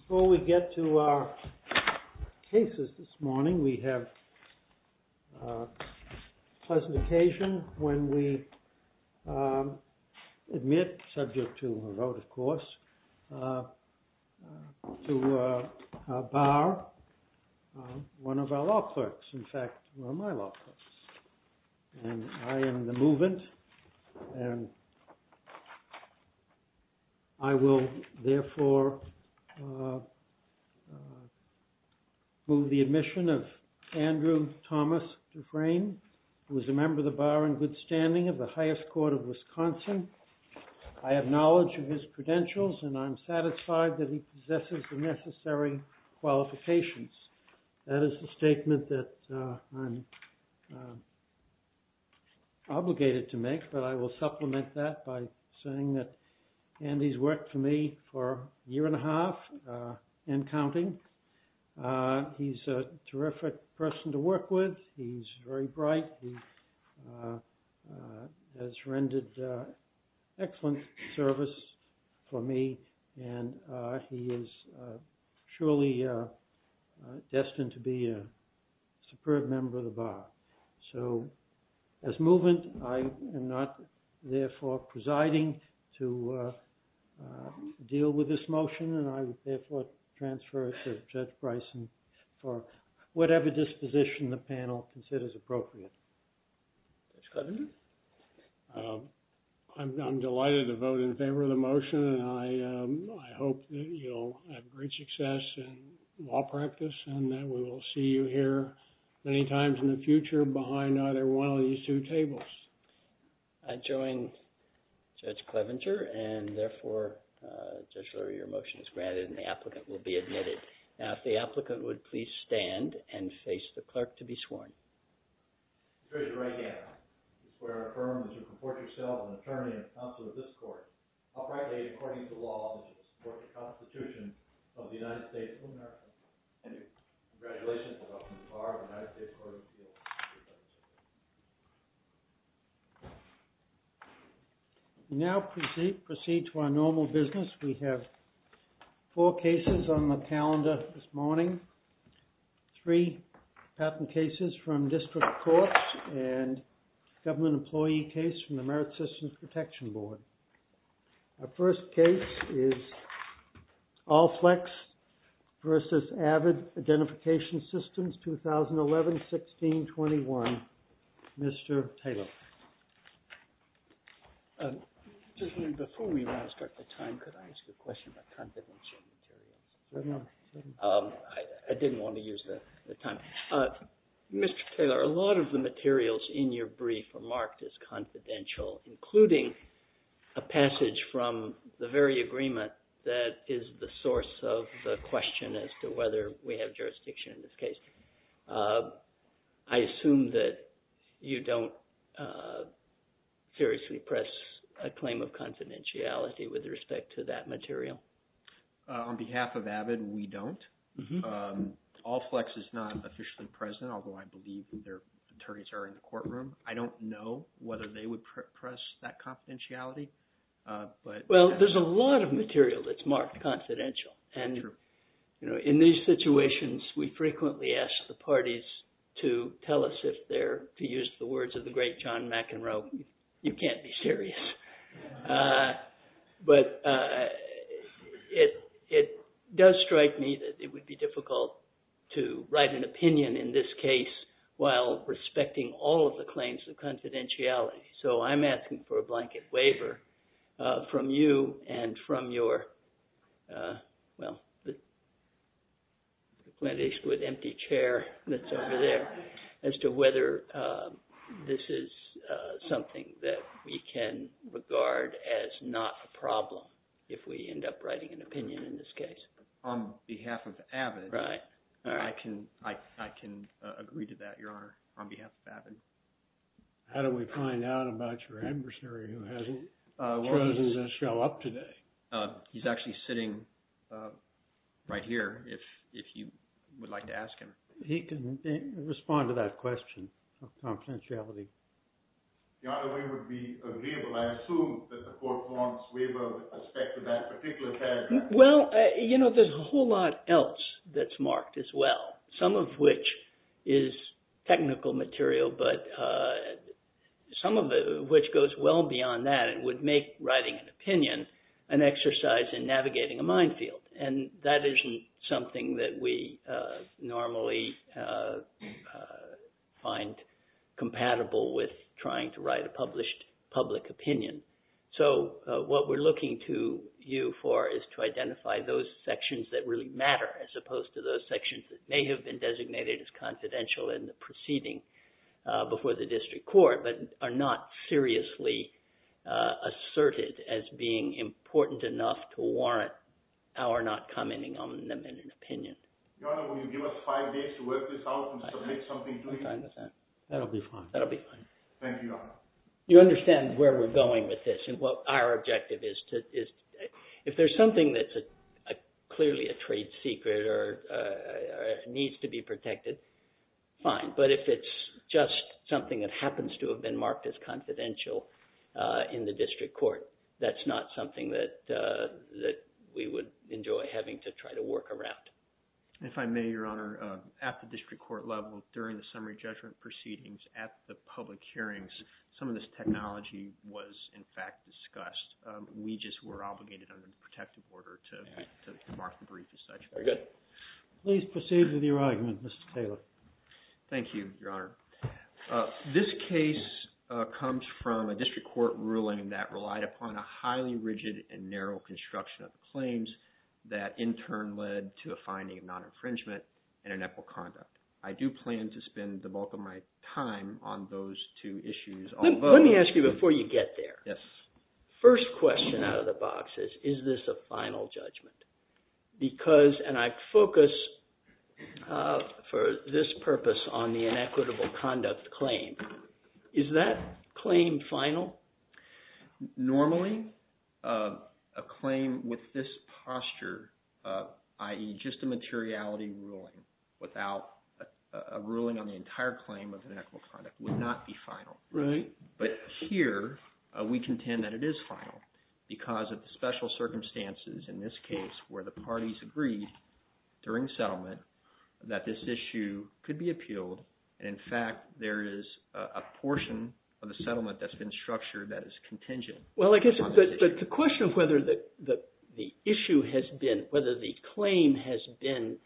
Before we get to our cases this morning, we have a pleasant occasion when we admit, subject to a vote of course, to bar one of our law clerks. In fact, one of my law clerks. I am the movant and I will therefore move the admission of Andrew Thomas Dufresne, who is a member of the bar in good standing of the highest court of Wisconsin. I have knowledge of his credentials and I'm satisfied that he possesses the necessary qualifications. That is the I will supplement that by saying that Andy's worked for me for a year and a half and counting. He's a terrific person to work with. He's very bright. He has rendered excellent service and he is surely destined to be a superb member of the bar. So, as movant, I am not therefore presiding to deal with this motion and I would therefore transfer it to Judge Bryson for whatever disposition the panel considers appropriate. Judge Clevenger? I'm delighted to vote in favor of the motion and I hope that you'll have great success in law practice and that we will see you here many times in the future behind either one of these two tables. I join Judge Clevenger and therefore, Judge Lurie, your motion is granted and the applicant will be admitted. Now, if the applicant would please stand and face the clerk to be sworn. We now proceed to our normal business. We have four cases on the calendar this morning. Three patent cases from district courts and government employee case from the Merit Systems Protection Board. Our first case is Allflex versus Avid Identification Systems, 2011-16-21. Mr. Taylor. Before we want to start the time, could I ask a question about confidential material? I didn't want to use the time. Mr. Taylor, a lot of the materials in your brief are marked as confidential, including a passage from the very agreement that is the source of the question as to whether we have seriously pressed a claim of confidentiality with respect to that material. On behalf of Avid, we don't. Allflex is not officially present, although I believe their attorneys are in the courtroom. I don't know whether they would press that confidentiality. Well, there's a lot of material that's marked confidential and in these situations, we frequently ask the parties to tell us if they're, to use the words of the great John McEnroe, you can't be serious. But it does strike me that it would be difficult to write an opinion in this case while respecting all of the claims of confidentiality, so I'm asking for a blanket waiver from you and from your, well, at least with empty chair that's over there, as to whether this is something that we can regard as not a problem if we end up writing an opinion in this case. On behalf of Avid, I can agree to that, Your Honor, on behalf of Avid. How do we find out about your adversary who hasn't chosen to show up today? He's actually sitting right here, if you would like to ask him. He can respond to that question of confidentiality. Your Honor, we would be agreeable. I assume that the court warrants waiver with respect to that particular paragraph. Well, you know, there's a whole lot else that's marked as well, some of which is technical material, which goes well beyond that and would make writing an opinion an exercise in navigating a minefield, and that isn't something that we normally find compatible with trying to write a published public opinion. So what we're looking to you for is to identify those sections that really matter as opposed to those sections that may have been designated as confidential in the proceeding before the district court, but are not seriously asserted as being important enough to warrant our not commenting on them in an opinion. Your Honor, will you give us five days to work this out and submit something to you? That'll be fine. That'll be fine. Thank you, Your Honor. You understand where we're going with this and what our objective is. If there's something that's clearly a trade secret or needs to be protected, fine. But if it's just something that happens to have been marked as confidential in the district court, that's not something that we would enjoy having to try to work around. If I may, Your Honor, at the district court level, during the summary judgment proceedings, at the public hearings, some of this technology was, in fact, discussed. We just were obligated under the protective order to mark the brief as such. Very good. Please proceed with your argument, Mr. Taylor. Thank you, Your Honor. This case comes from a district court ruling that relied upon a highly rigid and narrow construction of the claims that, in turn, led to a finding of non-infringement and inequal conduct. I do plan to spend the bulk of my time on those two issues. Let me ask you before you get there. Yes. First question out of the box is, is this a final judgment? Because, and I focus for this purpose on the inequitable conduct claim, is that claim final? Normally, a claim with this posture, i.e. just a materiality ruling without a ruling on the entire claim of inequitable conduct, would not be final. Right. But here, we contend that it is final because of the special circumstances in this case where the parties agreed during settlement that this issue could be appealed. In fact, there is a portion of the settlement that's been structured that is contingent. Well, I guess the question of whether the issue has been, whether the claim has been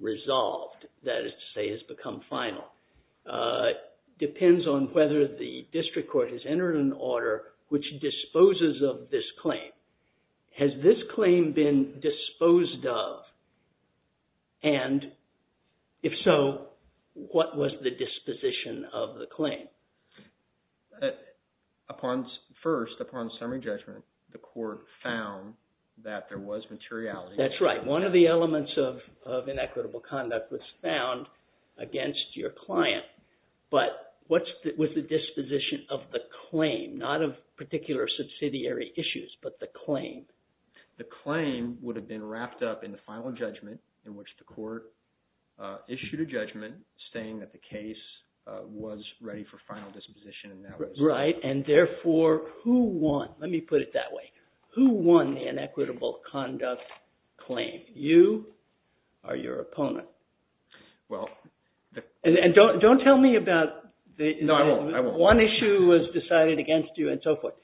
resolved, that is to say, has become final, depends on whether the district court has entered an order which disposes of this claim. Has this claim been disposed of? And if so, what was the disposition of the claim? First, upon summary judgment, the court found that there was materiality. That's right. One of the elements of inequitable conduct was found against your client. But what was the disposition of the claim, not of particular subsidiary issues, but the claim? The claim would have been wrapped up in the final judgment in which the court issued a judgment saying that the case was ready for final disposition. Right, and therefore, who won? Let me put it that way. Who won the inequitable conduct claim? You or your opponent? Don't tell me about one issue was decided against you and so forth.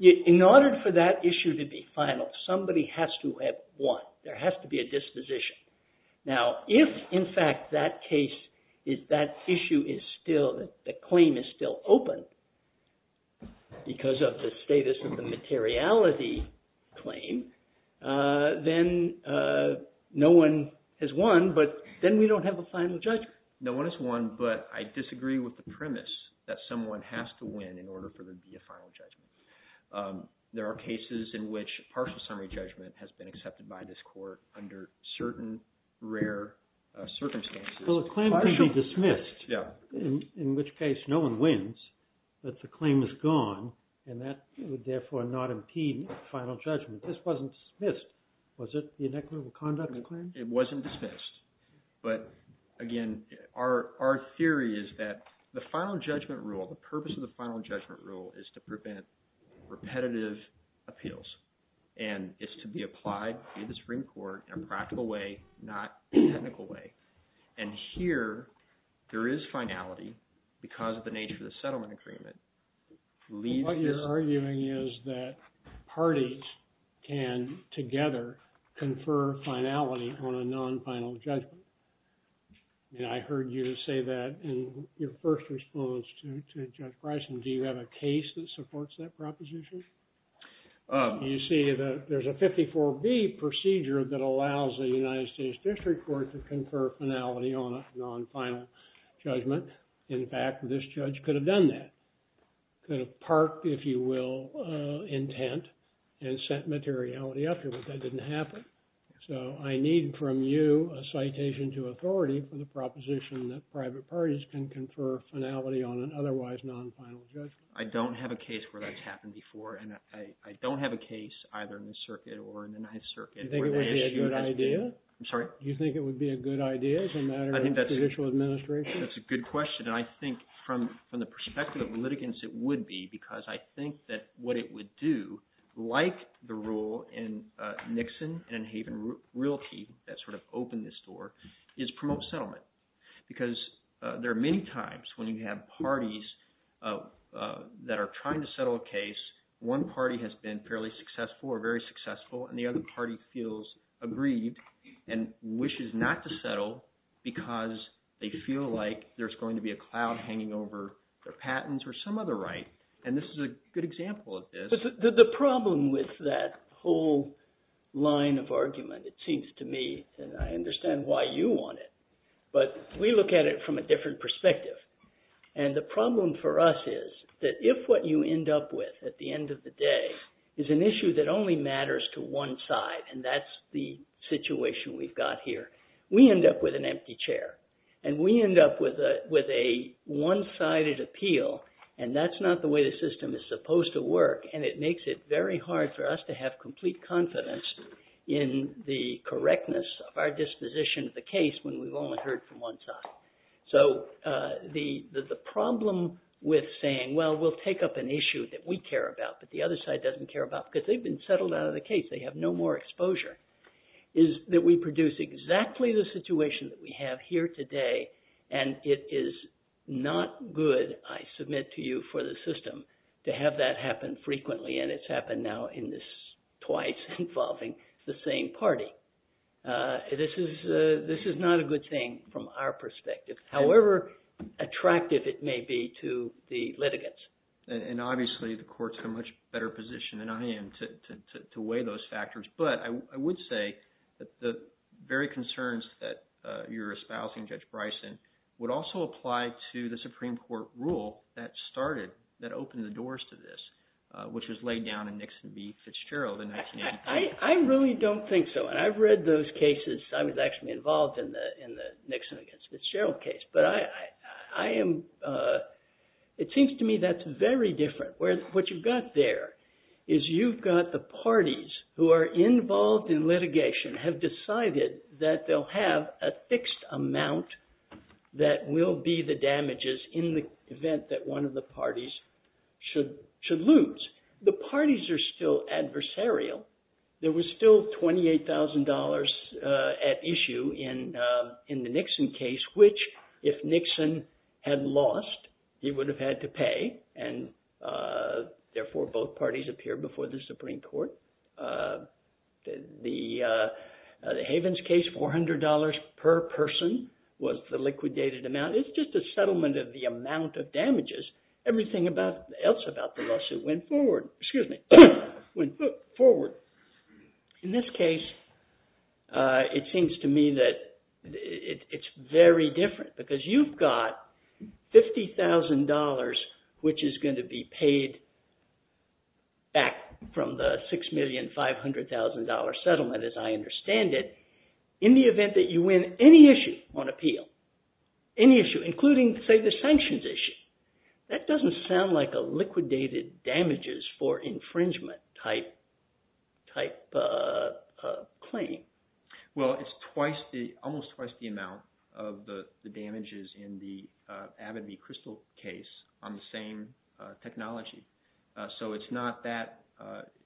In order for that issue to be final, somebody has to have won. There has to be a disposition. Now, if, in fact, that issue is still, the claim is still open because of the status of the materiality claim, then no one has won, but then we don't have a final judgment. No one has won, but I disagree with the premise that someone has to win in order for there to be a final judgment. There are cases in which partial summary judgment has been accepted by this court under certain rare circumstances. Well, the claim could be dismissed, in which case no one wins, but the claim is gone, and that would therefore not impede final judgment. This wasn't dismissed. Was it the inequitable conduct claim? It wasn't dismissed. But, again, our theory is that the final judgment rule, the purpose of the final judgment rule is to prevent repetitive appeals, and it's to be applied to the Supreme Court in a practical way, not a technical way. And here, there is finality because of the nature of the settlement agreement. What you're arguing is that parties can, together, confer finality on a non-final judgment, and I heard you say that in your first response to Judge Bryson. Do you have a case that supports that proposition? You see that there's a 54B procedure that allows the United States District Court to confer finality on a non-final judgment. In fact, this judge could have done that, could have parked, if you will, intent, and sent materiality afterwards. That didn't happen. So I need from you a citation to authority for the proposition that private parties can confer finality on an otherwise non-final judgment. I don't have a case where that's happened before, and I don't have a case either in the circuit or in the Ninth Circuit. Do you think it would be a good idea? I'm sorry? Do you think it would be a good idea as a matter of judicial administration? That's a good question, and I think from the perspective of litigants, it would be, because I think that what it would do, like the rule in Nixon and in Haven Realty that sort of opened this door, is promote settlement. Because there are many times when you have parties that are trying to settle a case. One party has been fairly successful or very successful, and the other party feels aggrieved and wishes not to settle because they feel like there's going to be a cloud hanging over their patents or some other right. And this is a good example of this. The problem with that whole line of argument, it seems to me, and I understand why you want it, but we look at it from a different perspective. And the problem for us is that if what you end up with at the end of the day is an issue that only matters to one side, and that's the situation we've got here, we end up with an empty chair. And we end up with a one-sided appeal, and that's not the way the system is supposed to work, and it makes it very hard for us to have complete confidence in the correctness of our disposition of the case when we've only heard from one side. So the problem with saying, well, we'll take up an issue that we care about, but the other side doesn't care about because they've been settled out of the case, they have no more exposure, is that we produce exactly the situation that we have here today. And it is not good, I submit to you, for the system to have that happen frequently, and it's happened now twice involving the same party. This is not a good thing from our perspective, however attractive it may be to the litigants. And obviously, the courts have a much better position than I am to weigh those factors. But I would say that the very concerns that you're espousing, Judge Bryson, would also apply to the Supreme Court rule that started – that opened the doors to this, which was laid down in Nixon v. Fitzgerald in 1983. I really don't think so. And I've read those cases. I was actually involved in the Nixon v. Fitzgerald case. But I am – it seems to me that's very different. What you've got there is you've got the parties who are involved in litigation, have decided that they'll have a fixed amount that will be the damages in the event that one of the parties should lose. The parties are still adversarial. There was still $28,000 at issue in the Nixon case, which if Nixon had lost, he would have had to pay, and therefore both parties appear before the Supreme Court. The Havens case, $400 per person was the liquidated amount. It's just a settlement of the amount of damages. Everything else about the lawsuit went forward. In this case, it seems to me that it's very different because you've got $50,000, which is going to be paid back from the $6,500,000 settlement, as I understand it, in the event that you win any issue on appeal, any issue, including, say, the sanctions issue. That doesn't sound like a liquidated damages for infringement type claim. Well, it's almost twice the amount of the damages in the Abbey v. Crystal case on the same technology. So it's not that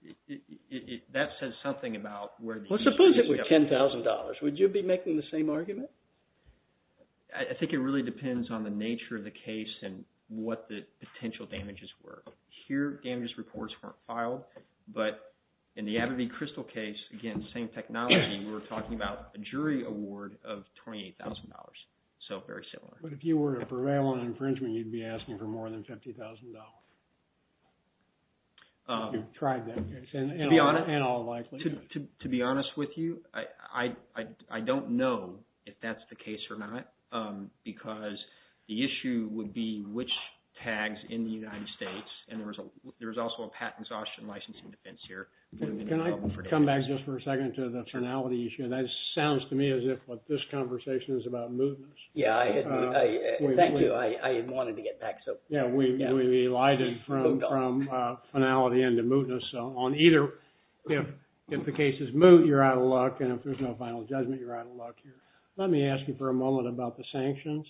– that says something about where the issue is. Well, suppose it were $10,000. Would you be making the same argument? I think it really depends on the nature of the case and what the potential damages were. Here, damages reports weren't filed. But in the Abbey v. Crystal case, again, same technology, we were talking about a jury award of $28,000. So very similar. But if you were to prevail on infringement, you'd be asking for more than $50,000. You've tried that case. To be honest – And all likely. To be honest with you, I don't know if that's the case or not, because the issue would be which tags in the United States – and there's also a patent exhaustion licensing defense here. Can I come back just for a second to the finality issue? That sounds to me as if what this conversation is about mootness. Yeah, I – thank you. I wanted to get back. Yeah, we've elided from finality into mootness. So on either – if the case is moot, you're out of luck, and if there's no final judgment, you're out of luck here. Let me ask you for a moment about the sanctions.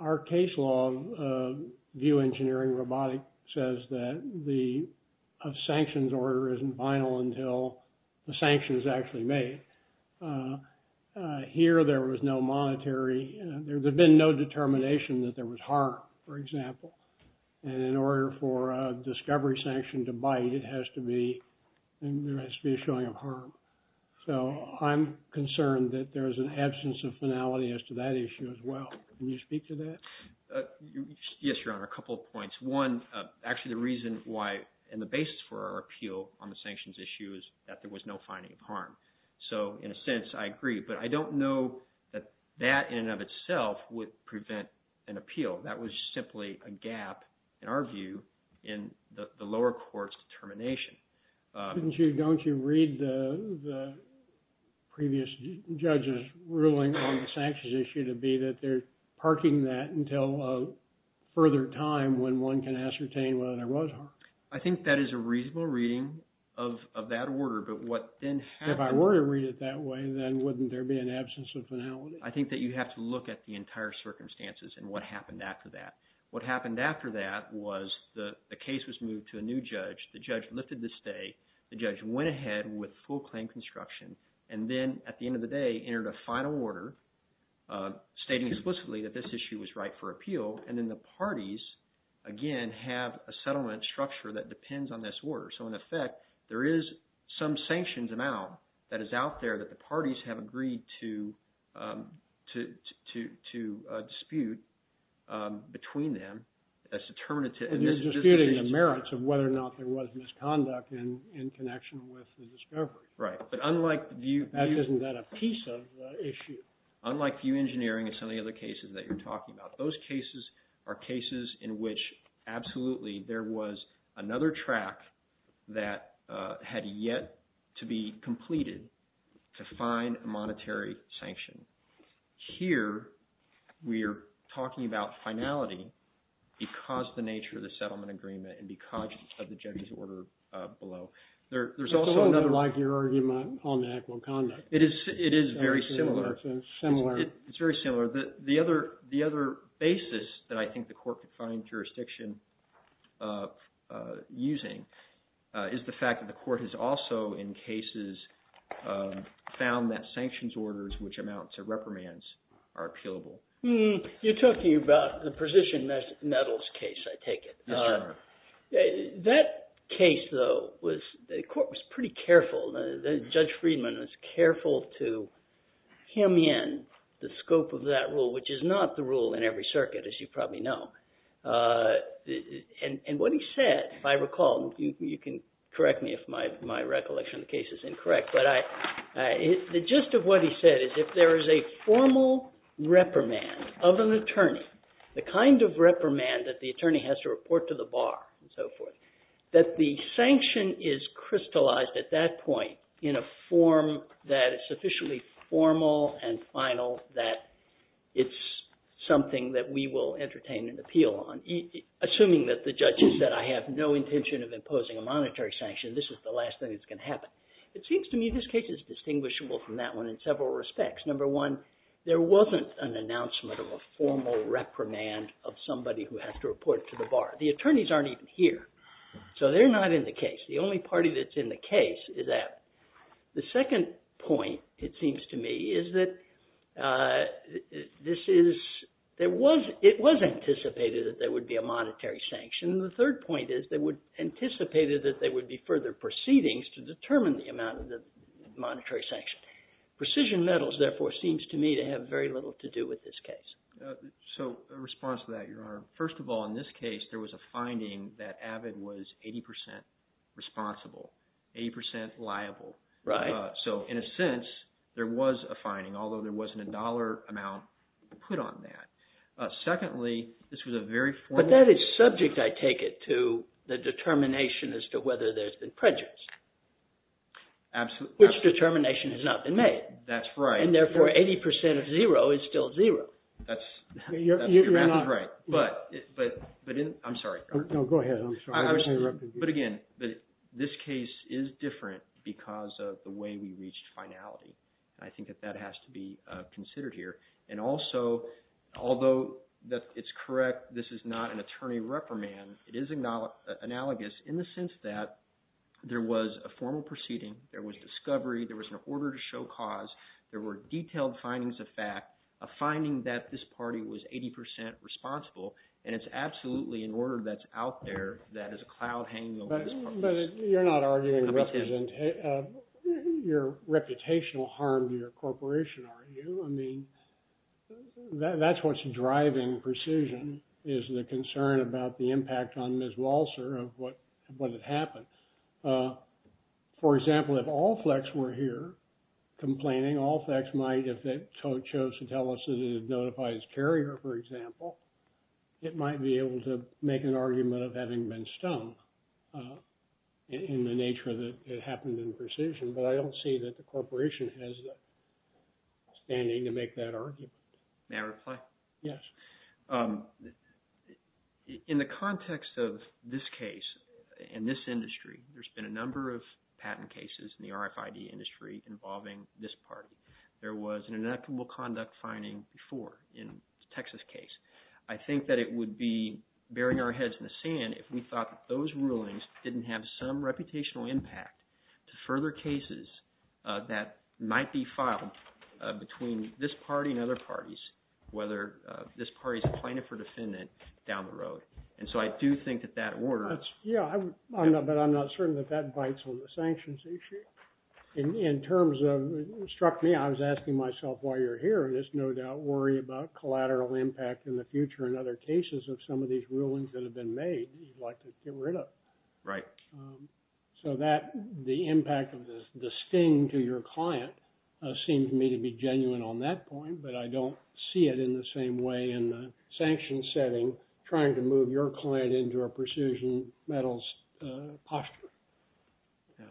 Our case law, VIEW Engineering Robotic, says that the sanctions order isn't final until the sanction is actually made. Here, there was no monetary – there's been no determination that there was harm, for example. And in order for a discovery sanction to bite, it has to be – there has to be a showing of harm. So I'm concerned that there's an absence of finality as to that issue as well. Can you speak to that? Yes, Your Honor, a couple of points. One, actually the reason why – and the basis for our appeal on the sanctions issue is that there was no finding of harm. So in a sense, I agree. But I don't know that that in and of itself would prevent an appeal. That was simply a gap, in our view, in the lower court's determination. Don't you read the previous judge's ruling on the sanctions issue to be that they're parking that until a further time when one can ascertain whether there was harm? I think that is a reasonable reading of that order. If I were to read it that way, then wouldn't there be an absence of finality? I think that you have to look at the entire circumstances and what happened after that. What happened after that was the case was moved to a new judge. The judge lifted the stay. The judge went ahead with full claim construction. And then at the end of the day, entered a final order stating explicitly that this issue was right for appeal. And then the parties, again, have a settlement structure that depends on this order. So in effect, there is some sanctions amount that is out there that the parties have agreed to dispute between them as determinative. And you're disputing the merits of whether or not there was misconduct in connection with the discovery. Right. But unlike the view… Isn't that a piece of the issue? Unlike view engineering and some of the other cases that you're talking about, those cases are cases in which absolutely there was another track that had yet to be completed to find a monetary sanction. Here, we're talking about finality because of the nature of the settlement agreement and because of the judge's order below. There's also another… It's a little bit like your argument on the act of conduct. It is very similar. It's similar. It's very similar. The other basis that I think the court could find jurisdiction using is the fact that the court has also, in cases, found that sanctions orders, which amounts to reprimands, are appealable. You're talking about the precision metals case, I take it. Yes, Your Honor. That case, though, the court was pretty careful. Judge Friedman was careful to hem in the scope of that rule, which is not the rule in every circuit, as you probably know. And what he said, if I recall, you can correct me if my recollection of the case is incorrect. But the gist of what he said is if there is a formal reprimand of an attorney, the kind of reprimand that the attorney has to report to the bar and so forth, that the sanction is crystallized at that point in a form that is sufficiently formal and final that it's something that we will entertain an appeal on. Assuming that the judge has said I have no intention of imposing a monetary sanction, this is the last thing that's going to happen. It seems to me this case is distinguishable from that one in several respects. Number one, there wasn't an announcement of a formal reprimand of somebody who has to report to the bar. The attorneys aren't even here, so they're not in the case. The only party that's in the case is that. The second point, it seems to me, is that it was anticipated that there would be a monetary sanction. The third point is they anticipated that there would be further proceedings to determine the amount of the monetary sanction. Precision metals, therefore, seems to me to have very little to do with this case. So in response to that, Your Honor, first of all, in this case, there was a finding that Abbott was 80 percent responsible, 80 percent liable. So in a sense, there was a finding, although there wasn't a dollar amount put on that. Secondly, this was a very formal – But that is subject, I take it, to the determination as to whether there's been prejudice. Absolutely. Which determination has not been made. That's right. And therefore, 80 percent of zero is still zero. That's – your math is right. But in – I'm sorry. No, go ahead. I'm sorry. But again, this case is different because of the way we reached finality. I think that that has to be considered here. And also, although it's correct this is not an attorney reprimand, it is analogous in the sense that there was a formal proceeding. There was discovery. There was an order to show cause. There were detailed findings of fact, a finding that this party was 80 percent responsible. And it's absolutely an order that's out there that is a cloud hanging over this party. But you're not arguing representation – your reputational harm to your corporation, are you? I mean, that's what's driving precision is the concern about the impact on Ms. Walser of what had happened. For example, if Allflex were here complaining, Allflex might – if they chose to tell us that it had notified its carrier, for example, it might be able to make an argument of having been stumped in the nature that it happened in precision. But I don't see that the corporation has the standing to make that argument. May I reply? Yes. In the context of this case and this industry, there's been a number of patent cases in the RFID industry involving this party. There was an inequitable conduct finding before in the Texas case. I think that it would be burying our heads in the sand if we thought that those rulings didn't have some reputational impact to further cases that might be filed between this party and other parties, whether this party's plaintiff or defendant down the road. And so I do think that that order – Yeah, but I'm not certain that that bites on the sanctions issue. In terms of – it struck me, I was asking myself while you were here, this no-doubt worry about collateral impact in the future in other cases of some of these rulings that have been made you'd like to get rid of. Right. So that – the impact of the sting to your client seems to me to be genuine on that point, but I don't see it in the same way in the sanction setting trying to move your client into a precision metals posture. Yeah.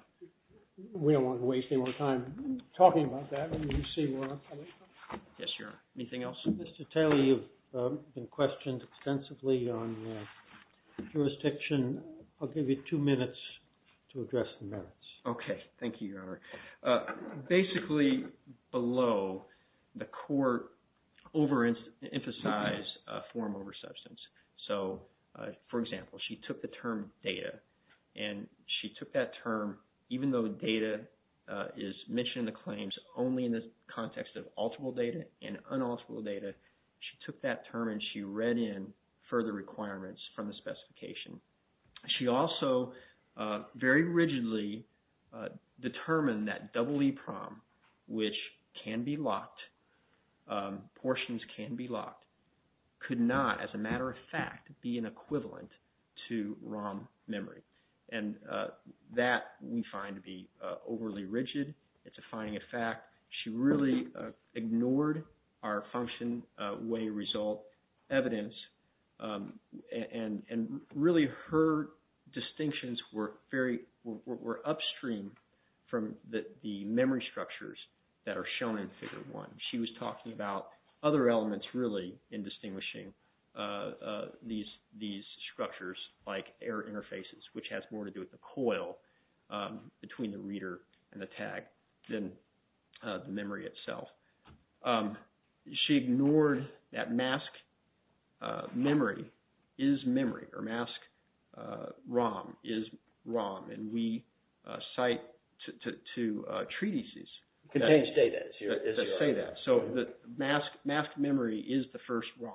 We don't want to waste any more time talking about that. Let me just see where I'm coming from. Yes, sir. Anything else? Mr. Taylor, you've been questioned extensively on jurisdiction. I'll give you two minutes to address the merits. Okay. Thank you, Your Honor. Basically, below, the court overemphasized a form over substance. So, for example, she took the term data, and she took that term, even though data is mentioned in the claims only in the context of alterable data and unalterable data, she took that term, and she read in further requirements from the specification. She also very rigidly determined that EEPROM, which can be locked, portions can be locked, could not, as a matter of fact, be an equivalent to ROM memory. And that we find to be overly rigid. It's a finding of fact. She really ignored our function, way, result, evidence, and really her distinctions were upstream from the memory structures that are shown in Figure 1. She was talking about other elements, really, in distinguishing these structures, like error interfaces, which has more to do with the coil between the reader and the tag than the memory itself. She ignored that mask memory is memory, or mask ROM is ROM, and we cite to treatises that say that. So the mask memory is the first ROM.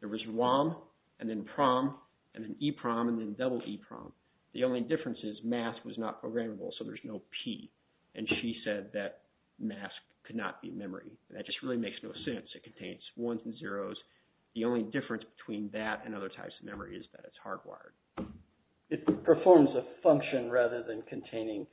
There was ROM, and then PROM, and then EPROM, and then EEPROM. The only difference is mask was not programmable, so there's no P. And she said that mask could not be memory. That just really makes no sense. It contains ones and zeros. The only difference between that and other types of memory is that it's hardwired. It performs a function rather than containing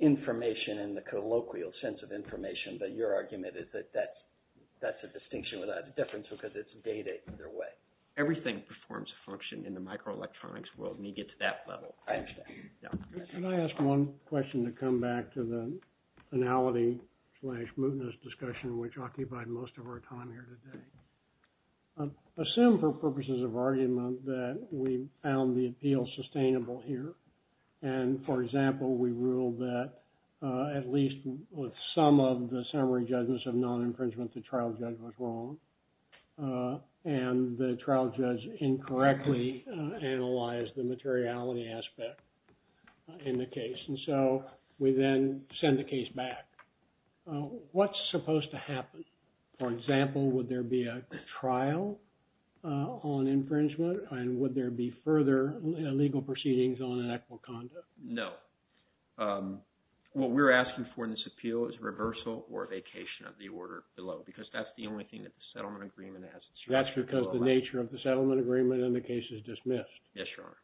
information in the colloquial sense of information, but your argument is that that's a distinction without a difference because it's data either way. Everything performs a function in the microelectronics world when you get to that level. I understand. Can I ask one question to come back to the finality-slash-mootness discussion, which occupied most of our time here today? Assume for purposes of argument that we found the appeal sustainable here, and, for example, we ruled that at least with some of the summary judgments of non-infringement, the trial judge was wrong, and the trial judge incorrectly analyzed the materiality aspect in the case. And so we then send the case back. What's supposed to happen? For example, would there be a trial on infringement, and would there be further legal proceedings on an act of conduct? No. What we're asking for in this appeal is reversal or vacation of the order below because that's the only thing that the settlement agreement has. That's because the nature of the settlement agreement in the case is dismissed. Yes, Your Honor.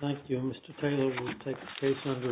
Thank you. Mr. Taylor will take the case under revisal.